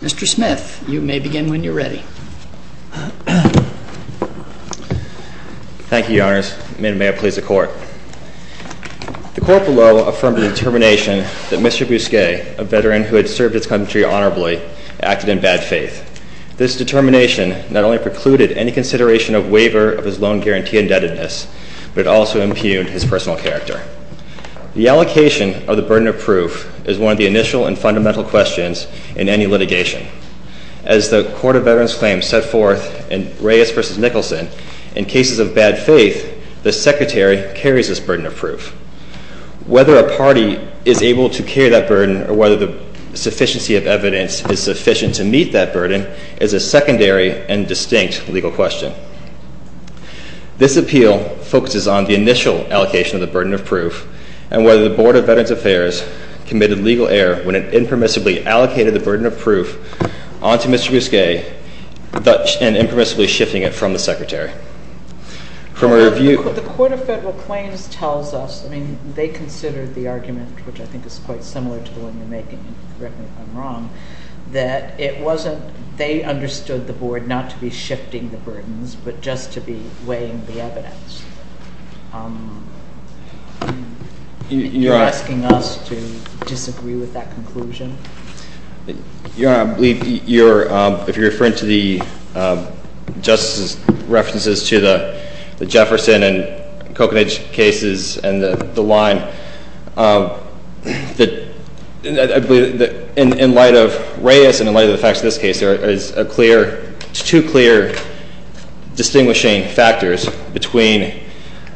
Mr. Smith, you may begin when you're ready. Thank you, Your Honors. May it please the Court. The Court below affirmed the determination that Mr. Bousquet, a veteran who had served his country honorably, acted in bad faith. This determination not only precluded any consideration of waiver of his loan guarantee indebtedness, but it also impugned his personal character. The allocation of the burden of proof is one of the initial and fundamental questions in any litigation. As the Court of Veterans Claims set forth in Reyes v. Nicholson, in cases of bad faith, the Secretary carries this burden of proof. Whether a party is able to carry that burden or whether the sufficiency of evidence is sufficient to meet that burden is a secondary and distinct legal question. This appeal focuses on the initial allocation of the burden of proof and whether the Board of Veterans Affairs committed legal error when it impermissibly allocated the burden of proof onto Mr. Bousquet and impermissibly shifting it from the Secretary. The Court of Federal Claims tells us, I mean, they considered the argument, which I think is quite similar to the one you're making, correct me if I'm wrong, that it wasn't, they understood the board not to be shifting the burdens, but just to be weighing the evidence. You're asking us to disagree with that conclusion? You're, I believe, you're, if you're referring to the justice's references to the Jefferson and Reyes, and in light of the facts of this case, there is a clear, two clear distinguishing factors between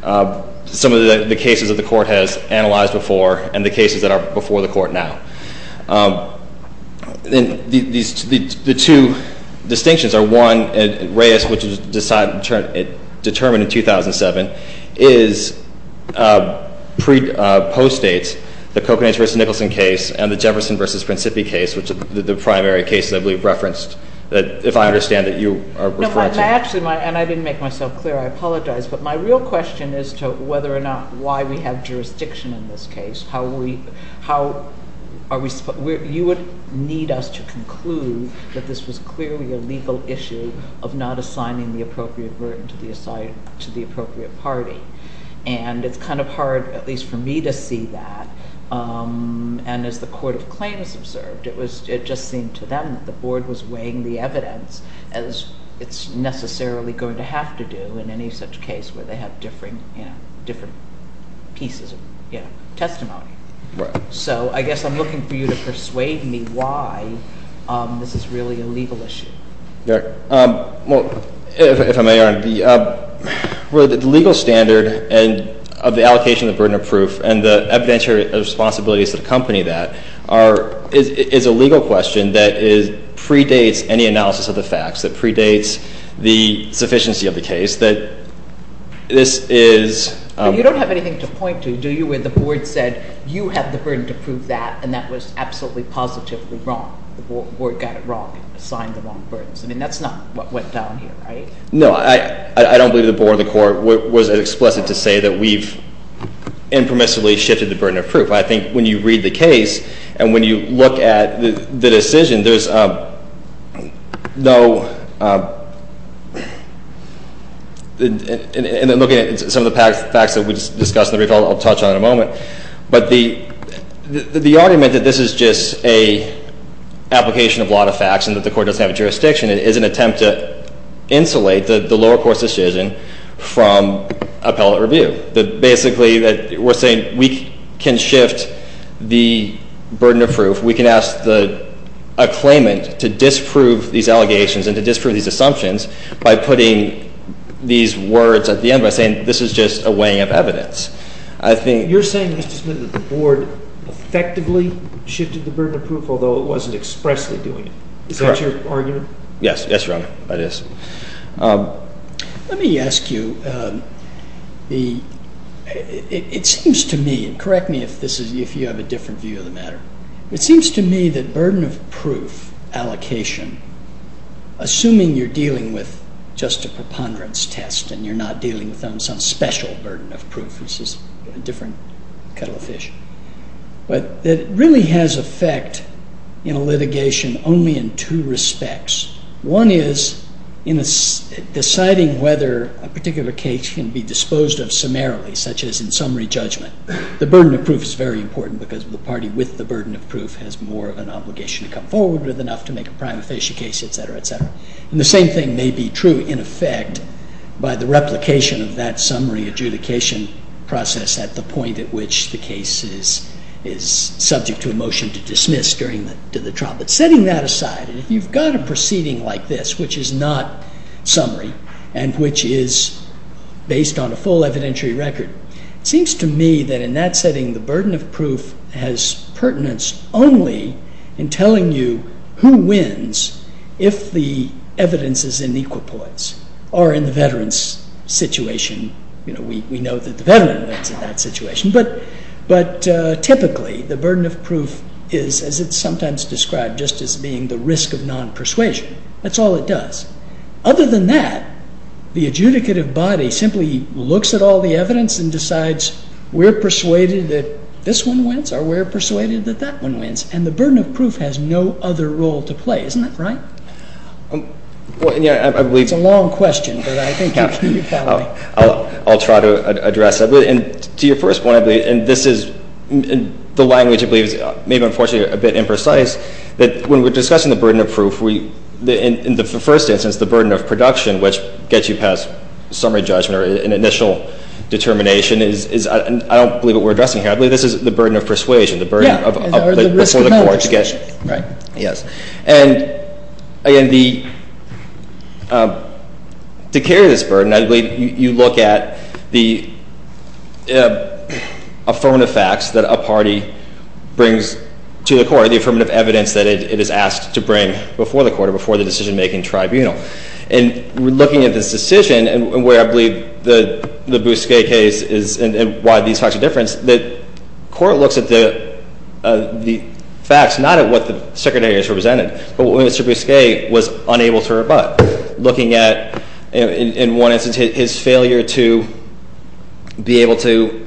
some of the cases that the Court has analyzed before and the cases that are before the Court now. And the two distinctions are one, Reyes, which was determined in 2007, is post-dates the Coconates v. Nicholson case and the Jefferson v. Principi case, which is the primary case that we referenced, that if I understand it, you are referring to. Actually, and I didn't make myself clear, I apologize, but my real question is to whether or not why we have jurisdiction in this case. How are we, you would need us to conclude that this was clearly a legal issue of not assigning the appropriate burden to the appropriate party. And it's kind of hard, at least for me, to see that. And as the Court of Claims observed, it just seemed to them that the board was weighing the evidence as it's necessarily going to have to do in any such case where they have different pieces of testimony. So I guess I'm looking for you to persuade me why this is really a legal issue. Yeah, well, if I may, Your Honor, the legal standard of the allocation of the burden of proof and the evidentiary responsibilities that accompany that is a legal question that predates any analysis of the facts, that predates the sufficiency of the case, that this is- But you don't have anything to point to, do you, where the board said, you have the burden to prove that, and that was absolutely, positively wrong. The board got it wrong, assigned the wrong burdens. I mean, that's not what went down here, right? No, I don't believe the board or the court was as explicit to say that we've impermissibly shifted the burden of proof. I think when you read the case, and when you look at the decision, there's no, and then looking at some of the facts that we just discussed in the brief I'll touch on in a moment. But the argument that this is just a application of a lot of facts and that the court doesn't have a jurisdiction is an attempt to insulate the lower court's decision from appellate review. That basically, we're saying we can shift the burden of proof. We can ask the acclaimant to disprove these allegations and to disprove these assumptions by putting these words at the end by saying this is just a weighing of evidence. I think- You're saying, Mr. Smith, that the board effectively shifted the burden of proof, although it wasn't expressly doing it. Is that your argument? Yes, yes, Your Honor, that is. Let me ask you, it seems to me, and correct me if you have a different view of the matter. It seems to me that burden of proof allocation, assuming you're dealing with just a preponderance test and you're not dealing with some special burden of proof, this is a different kettle of fish. But it really has effect in a litigation only in two respects. One is in deciding whether a particular case can be disposed of summarily, such as in summary judgment. The burden of proof is very important because the party with the burden of proof has more of an obligation to come forward with enough to make a prima facie case, etc., etc. And the same thing may be true, in effect, by the replication of that summary adjudication process at the point at which the case is subject to a motion to dismiss during the trial. But setting that aside, if you've got a proceeding like this, which is not summary and which is based on a full evidentiary record, it seems to me that in that setting, the burden of proof has pertinence only in telling you who wins if the evidence is in equal points or in the veteran's situation. You know, we know that the veteran wins in that situation, but typically the burden of proof is, as it's sometimes described, just as being the risk of non-persuasion. That's all it does. Other than that, the adjudicative body simply looks at all the evidence and decides we're persuaded that this one wins or we're persuaded that that one wins, and the burden of proof has no other role to play. Isn't that right? It's a long question, but I think you can follow me. I'll try to address that. To your first point, I believe, and this is the language, I believe, is maybe unfortunately a bit imprecise, that when we're discussing the burden of proof, in the first instance, the burden of production, which gets you past summary judgment or an initial determination, I don't believe what we're addressing here. I believe this is the burden of persuasion. Yeah, or the risk of non-persuasion. Right, yes. And, again, to carry this burden, I believe you look at the affirmative facts that a party brings to the court, the affirmative evidence that it is asked to bring before the court or before the decision-making tribunal. And we're looking at this decision, and where I believe the Bousquet case is and why these facts are different, the court looks at the facts, not at what the secretaries represented, but what Mr. Bousquet was unable to rebut. Looking at, in one instance, his failure to be able to,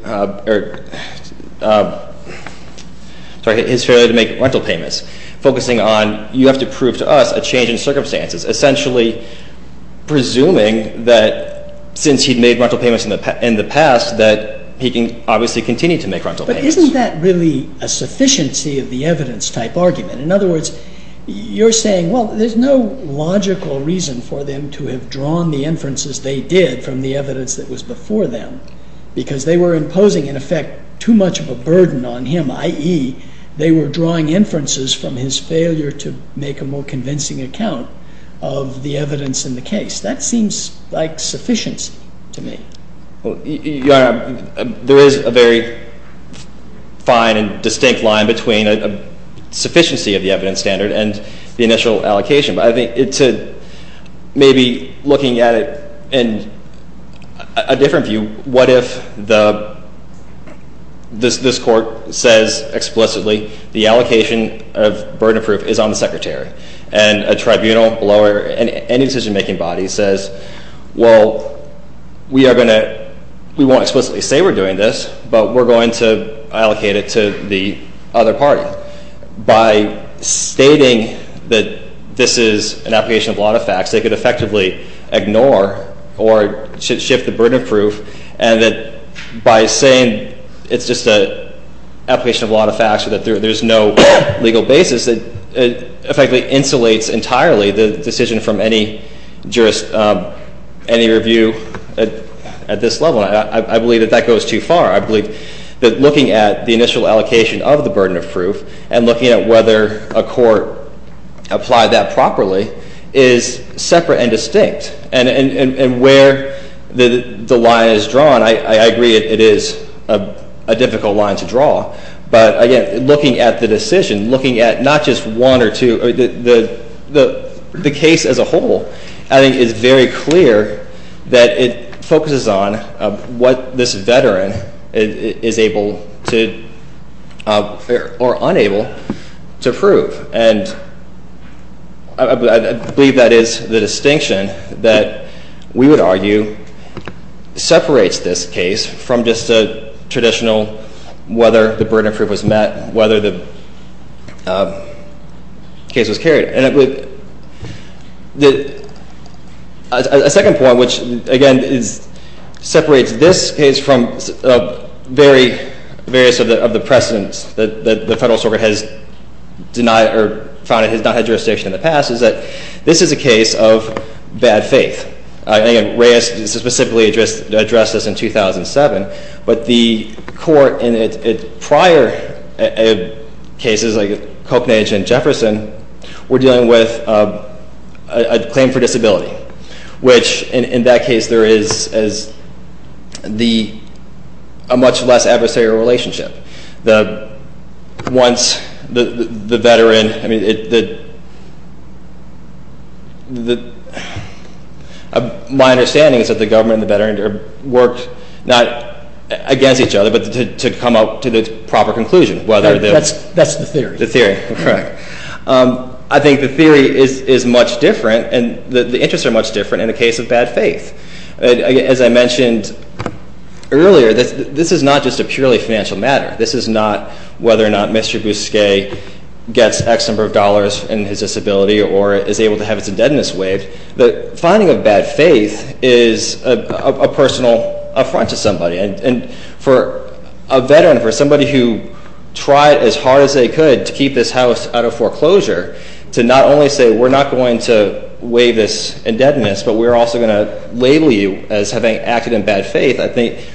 sorry, his failure to make rental payments. Focusing on, you have to prove to us a change in circumstances. Essentially presuming that, since he'd made rental payments in the past, that he can obviously continue to make rental payments. But isn't that really a sufficiency of the evidence type argument? In other words, you're saying, well, there's no logical reason for them to have drawn the inferences they did from the evidence that was before them. Because they were imposing, in effect, too much of a burden on him. I.e., they were drawing inferences from his failure to make a more convincing account of the evidence in the case. That seems like sufficiency to me. Your Honor, there is a very fine and distinct line between a sufficiency of the evidence standard and the initial allocation. Maybe looking at it in a different view, what if this court says explicitly the allocation of burden of proof is on the Secretary? And a tribunal, lawyer, any decision-making body says, well, we won't explicitly say we're doing this, but we're going to allocate it to the other party. By stating that this is an application of a lot of facts, they could effectively ignore or shift the burden of proof. And that by saying it's just an application of a lot of facts, or that there's no legal basis, it effectively insulates entirely the decision from any review at this level. I believe that that goes too far. I believe that looking at the initial allocation of the burden of proof and looking at whether a court applied that properly is separate and distinct. And where the line is drawn, I agree it is a difficult line to draw. But again, looking at the decision, looking at not just one or two, the case as a whole I think is very clear that it focuses on what this veteran is able to or unable to prove. And I believe that is the distinction that we would argue separates this case from just a traditional whether the burden of proof was met, whether the case was carried. A second point, which again separates this case from various of the precedents that the Federalist Organ has denied or found it has not had jurisdiction in the past, is that this is a case of bad faith. I think Reyes specifically addressed this in 2007, but the court in its prior cases, like Copenhagen and Jefferson, were dealing with a claim for disability, which in that case there is a much less adversarial relationship. My understanding is that the government and the veteran worked not against each other, but to come up to the proper conclusion. That's the theory. The theory, correct. I think the theory is much different and the interests are much different in the case of bad faith. As I mentioned earlier, this is not just a purely financial matter. This is not whether or not Mr. Bousquet gets X number of dollars in his disability or is able to have his indebtedness waived. The finding of bad faith is a personal affront to somebody. And for a veteran, for somebody who tried as hard as they could to keep this house out of foreclosure, to not only say we're not going to waive this indebtedness, but we're also going to label you as having acted in bad faith, I think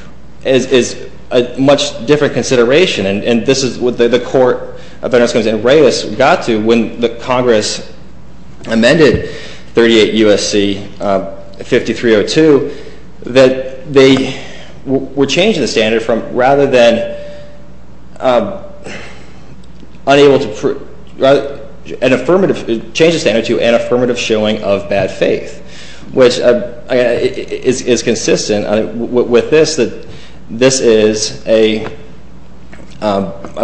is a much different consideration. And this is what the court of Veterans' Claims in Reyes got to when the Congress amended 38 U.S.C. 5302, that they would change the standard from rather than unable to, change the standard to an affirmative showing of bad faith, which is consistent with this. This is a, not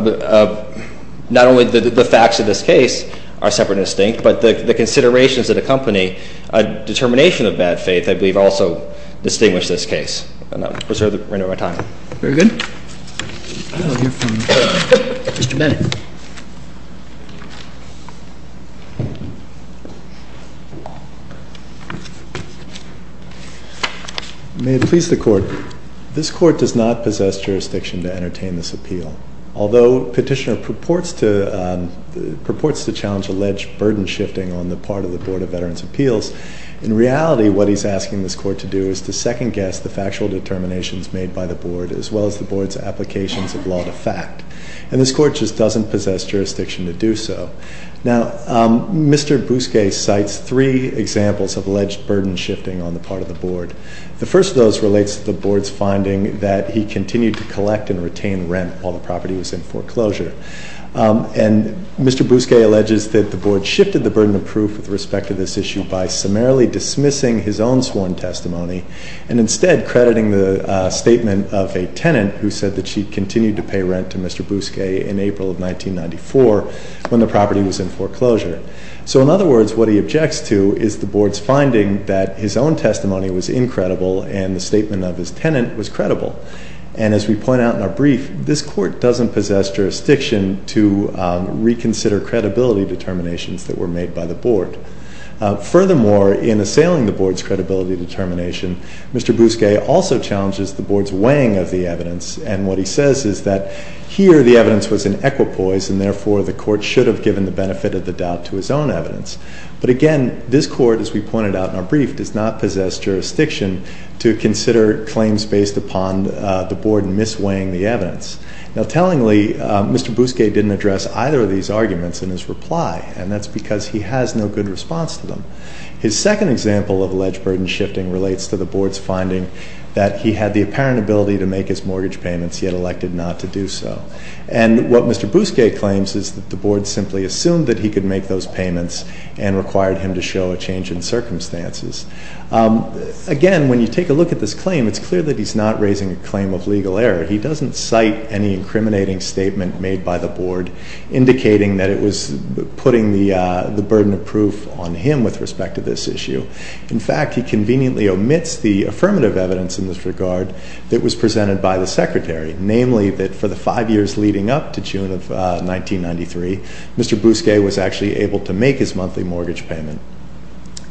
only the facts of this case are separate and distinct, but the considerations that accompany a determination of bad faith, I believe, also distinguish this case. And I'll reserve the remainder of my time. Very good. Mr. Bennett. May it please the Court, this Court does not possess jurisdiction to entertain this appeal. Although Petitioner purports to challenge alleged burden shifting on the part of the Board of Veterans' Appeals, in reality what he's asking this Court to do is to second-guess the factual determinations made by the Board, as well as the Board's applications of law to fact. And this Court just doesn't possess jurisdiction to do so. Now, Mr. Bousquet cites three examples of alleged burden shifting on the part of the Board. The first of those relates to the Board's finding that he continued to collect and retain rent while the property was in foreclosure. And Mr. Bousquet alleges that the Board shifted the burden of proof with respect to this issue by summarily dismissing his own sworn testimony and instead crediting the statement of a tenant who said that she continued to pay rent to Mr. Bousquet in April of 1994 when the property was in foreclosure. So, in other words, what he objects to is the Board's finding that his own testimony was incredible and the statement of his tenant was credible. And as we point out in our brief, this Court doesn't possess jurisdiction to reconsider credibility determinations that were made by the Board. Furthermore, in assailing the Board's credibility determination, Mr. Bousquet also challenges the Board's weighing of the evidence. And what he says is that here the evidence was in equipoise and therefore the Court should have given the benefit of the doubt to his own evidence. But again, this Court, as we pointed out in our brief, does not possess jurisdiction to consider claims based upon the Board misweighing the evidence. Now, tellingly, Mr. Bousquet didn't address either of these arguments in his reply. And that's because he has no good response to them. His second example of alleged burden shifting relates to the Board's finding that he had the apparent ability to make his mortgage payments, yet elected not to do so. And what Mr. Bousquet claims is that the Board simply assumed that he could make those payments and required him to show a change in circumstances. Again, when you take a look at this claim, it's clear that he's not raising a claim of legal error. He doesn't cite any incriminating statement made by the Board indicating that it was putting the burden of proof on him with respect to this issue. In fact, he conveniently omits the affirmative evidence in this regard that was presented by the Secretary, namely that for the five years leading up to June of 1993, Mr. Bousquet was actually able to make his monthly mortgage payment.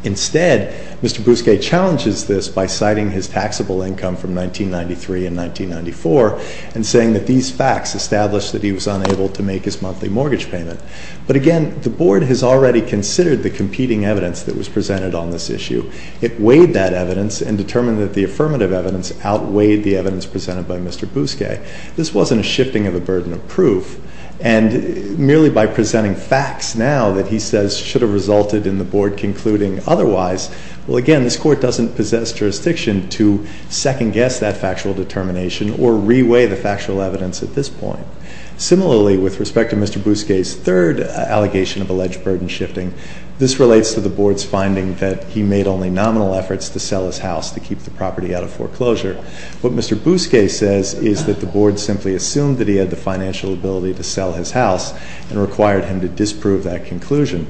Instead, Mr. Bousquet challenges this by citing his taxable income from 1993 and 1994 and saying that these facts established that he was unable to make his monthly mortgage payment. But again, the Board has already considered the competing evidence that was presented on this issue. It weighed that evidence and determined that the affirmative evidence outweighed the evidence presented by Mr. Bousquet. This wasn't a shifting of a burden of proof, and merely by presenting facts now that he says should have resulted in the Board concluding otherwise, well, again, this Court doesn't possess jurisdiction to second-guess that factual determination or re-weigh the factual evidence at this point. Similarly, with respect to Mr. Bousquet's third allegation of alleged burden shifting, this relates to the Board's finding that he made only nominal efforts to sell his house to keep the property out of foreclosure. What Mr. Bousquet says is that the Board simply assumed that he had the financial ability to sell his house and required him to disprove that conclusion.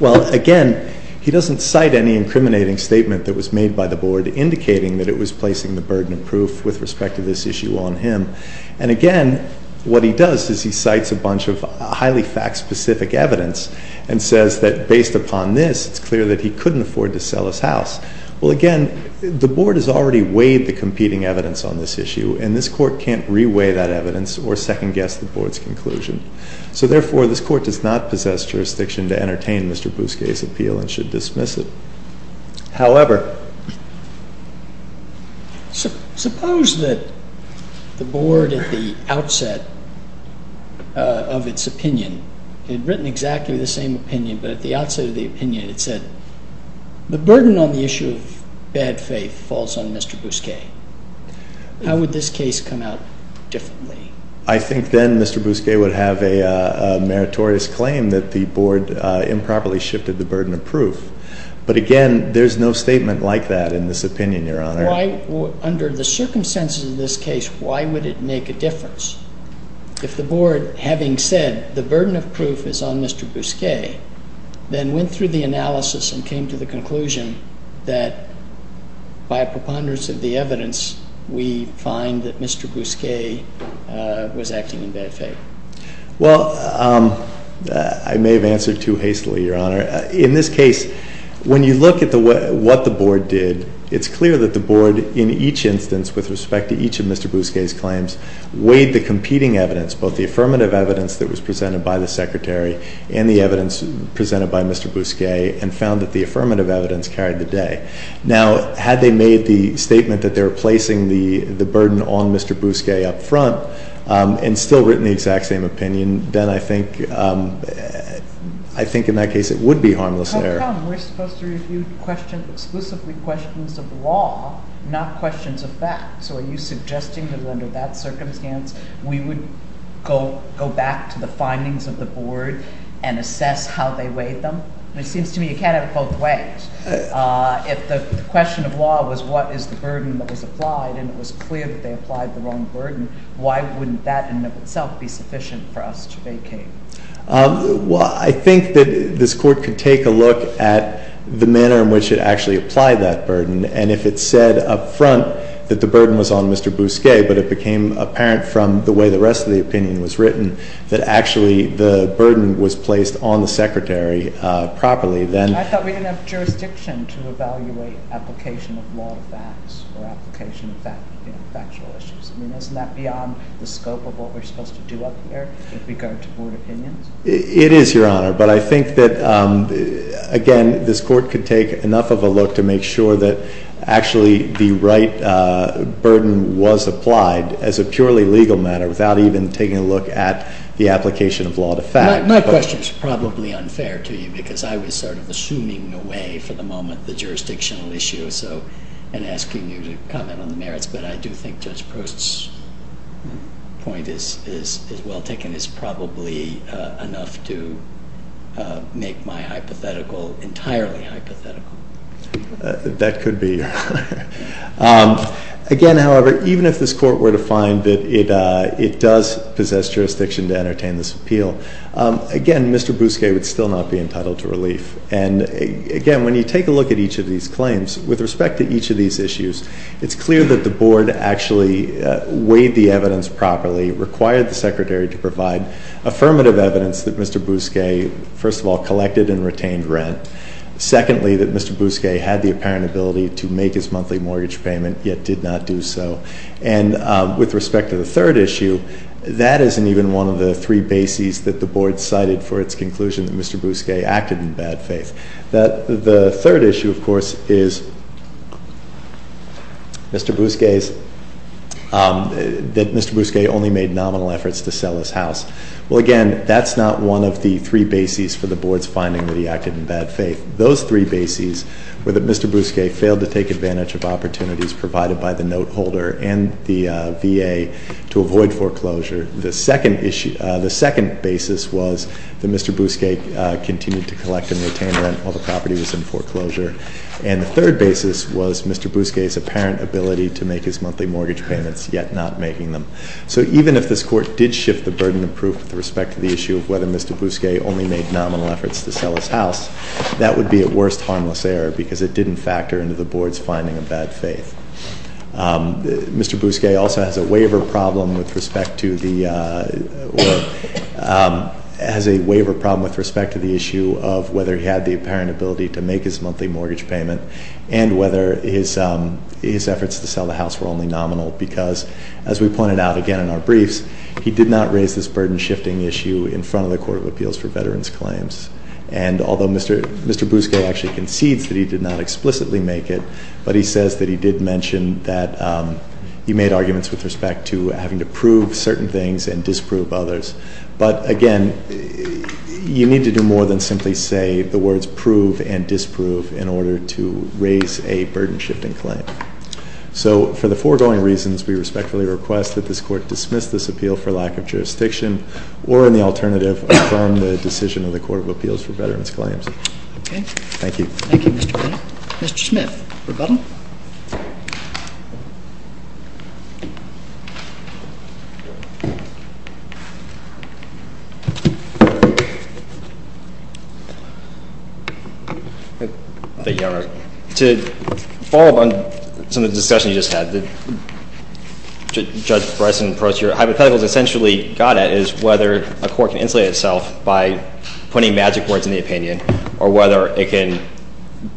Well, again, he doesn't cite any incriminating statement that was made by the Board indicating that it was placing the burden of proof with respect to this issue on him. And, again, what he does is he cites a bunch of highly fact-specific evidence and says that based upon this, it's clear that he couldn't afford to sell his house. Well, again, the Board has already weighed the competing evidence on this issue, and this Court can't re-weigh that evidence or second-guess the Board's conclusion. So, therefore, this Court does not possess jurisdiction to entertain Mr. Bousquet's appeal and should dismiss it. However... Suppose that the Board at the outset of its opinion had written exactly the same opinion, but at the outset of the opinion it said the burden on the issue of bad faith falls on Mr. Bousquet. How would this case come out differently? I think then Mr. Bousquet would have a meritorious claim that the Board improperly shifted the burden of proof. But, again, there's no statement like that in this opinion, Your Honor. Why, under the circumstances of this case, why would it make a difference if the Board, having said the burden of proof is on Mr. Bousquet, then went through the analysis and came to the conclusion that, by preponderance of the evidence, we find that Mr. Bousquet was acting in bad faith? Well, I may have answered too hastily, Your Honor. In this case, when you look at what the Board did, it's clear that the Board, in each instance, with respect to each of Mr. Bousquet's claims, weighed the competing evidence, both the affirmative evidence that was presented by the Secretary and the evidence presented by Mr. Bousquet, and found that the affirmative evidence carried the day. Now, had they made the statement that they were placing the burden on Mr. Bousquet up front and still written the exact same opinion, then I think in that case it would be harmless error. How come we're supposed to review questions, exclusively questions of law, not questions of fact? So are you suggesting that under that circumstance we would go back to the findings of the Board and assess how they weighed them? It seems to me you can't have it both ways. If the question of law was what is the burden that was applied, and it was clear that they applied the wrong burden, why wouldn't that in and of itself be sufficient for us to vacate? Well, I think that this Court could take a look at the manner in which it actually applied that burden, and if it said up front that the burden was on Mr. Bousquet, but it became apparent from the way the rest of the opinion was written that actually the burden was placed on the Secretary properly, then— I mean, isn't that beyond the scope of what we're supposed to do up here with regard to Board opinions? It is, Your Honor, but I think that, again, this Court could take enough of a look to make sure that actually the right burden was applied as a purely legal matter without even taking a look at the application of law to fact. My question is probably unfair to you because I was sort of assuming away for the moment the jurisdictional issue and asking you to comment on the merits, but I do think Judge Prost's point is well taken. It's probably enough to make my hypothetical entirely hypothetical. That could be. Again, however, even if this Court were to find that it does possess jurisdiction to entertain this appeal, again, Mr. Bousquet would still not be entitled to relief. And, again, when you take a look at each of these claims, with respect to each of these issues, it's clear that the Board actually weighed the evidence properly, required the Secretary to provide affirmative evidence that Mr. Bousquet, first of all, collected and retained rent. Secondly, that Mr. Bousquet had the apparent ability to make his monthly mortgage payment, yet did not do so. And with respect to the third issue, that isn't even one of the three bases that the Board cited for its conclusion that Mr. Bousquet acted in bad faith. The third issue, of course, is that Mr. Bousquet only made nominal efforts to sell his house. Well, again, that's not one of the three bases for the Board's finding that he acted in bad faith. Those three bases were that Mr. Bousquet failed to take advantage of opportunities provided by the note holder and the VA to avoid foreclosure. The second basis was that Mr. Bousquet continued to collect and retain rent while the property was in foreclosure. And the third basis was Mr. Bousquet's apparent ability to make his monthly mortgage payments, yet not making them. So even if this Court did shift the burden of proof with respect to the issue of whether Mr. Bousquet only made nominal efforts to sell his house, that would be at worst harmless error because it didn't factor into the Board's finding of bad faith. Mr. Bousquet also has a waiver problem with respect to the issue of whether he had the apparent ability to make his monthly mortgage payment and whether his efforts to sell the house were only nominal because, as we pointed out again in our briefs, he did not raise this burden-shifting issue in front of the Court of Appeals for Veterans Claims. And although Mr. Bousquet actually concedes that he did not explicitly make it, but he says that he did mention that he made arguments with respect to having to prove certain things and disprove others. But again, you need to do more than simply say the words prove and disprove in order to raise a burden-shifting claim. So for the foregoing reasons, we respectfully request that this Court dismiss this appeal for lack of jurisdiction or in the alternative affirm the decision of the Court of Appeals for Veterans Claims. Okay. Thank you. Thank you, Mr. Bennett. Mr. Smith, rebuttal. Thank you, Your Honor. To follow up on some of the discussion you just had, Judge Bryson proposed your hypotheticals essentially got at is whether a court can insulate itself by putting magic words in the opinion or whether it can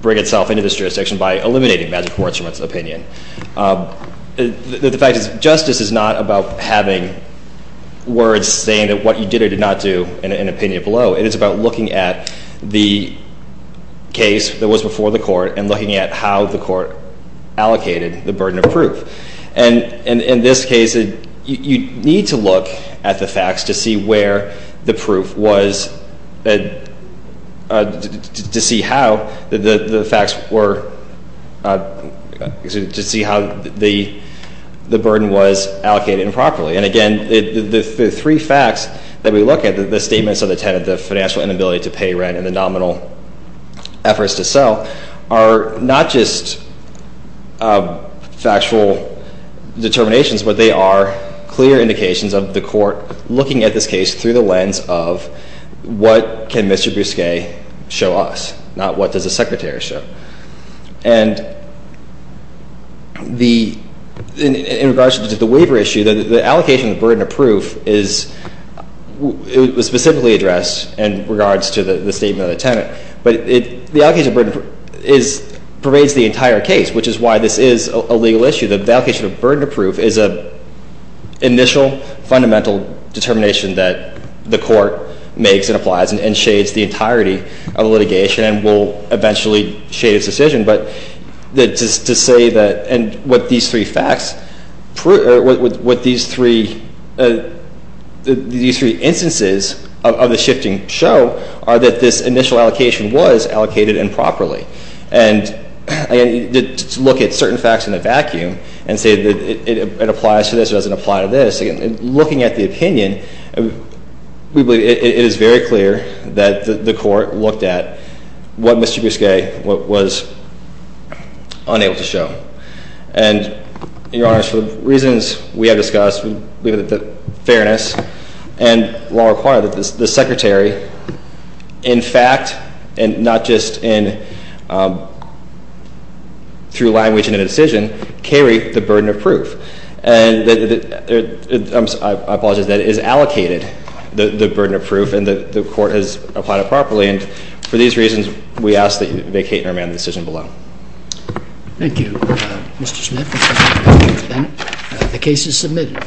bring itself into this jurisdiction by eliminating magic words from its opinion. The fact is justice is not about having words saying that what you did or did not do in an opinion below. It is about looking at the case that was before the court and looking at how the court allocated the burden of proof. And in this case, you need to look at the facts to see where the proof was to see how the burden was allocated improperly. And again, the three facts that we look at, the statements of the tenant, the financial inability to pay rent, and the nominal efforts to sell are not just factual determinations, but they are clear indications of the court looking at this case through the lens of what can Mr. Bousquet show us, not what does the Secretary show. And in regards to the waiver issue, the allocation of the burden of proof is specifically addressed in regards to the statement of the tenant. But the allocation of burden of proof pervades the entire case, which is why this is a legal issue. The allocation of burden of proof is an initial fundamental determination that the court makes and applies and shades the entirety of the litigation and will eventually shade its decision. But to say that what these three instances of the shifting show are that this initial allocation was allocated improperly. And to look at certain facts in a vacuum and say that it applies to this or doesn't apply to this, looking at the opinion, we believe it is very clear that the court looked at what Mr. Bousquet was unable to show. And, Your Honor, for the reasons we have discussed, we believe that the fairness and law require that the Secretary, in fact, and not just through language and in a decision, carry the burden of proof. And I apologize, that it is allocated, the burden of proof, and the court has applied it properly. And for these reasons, we ask that you vacate and remand the decision below. Thank you, Mr. Smith. The case is submitted.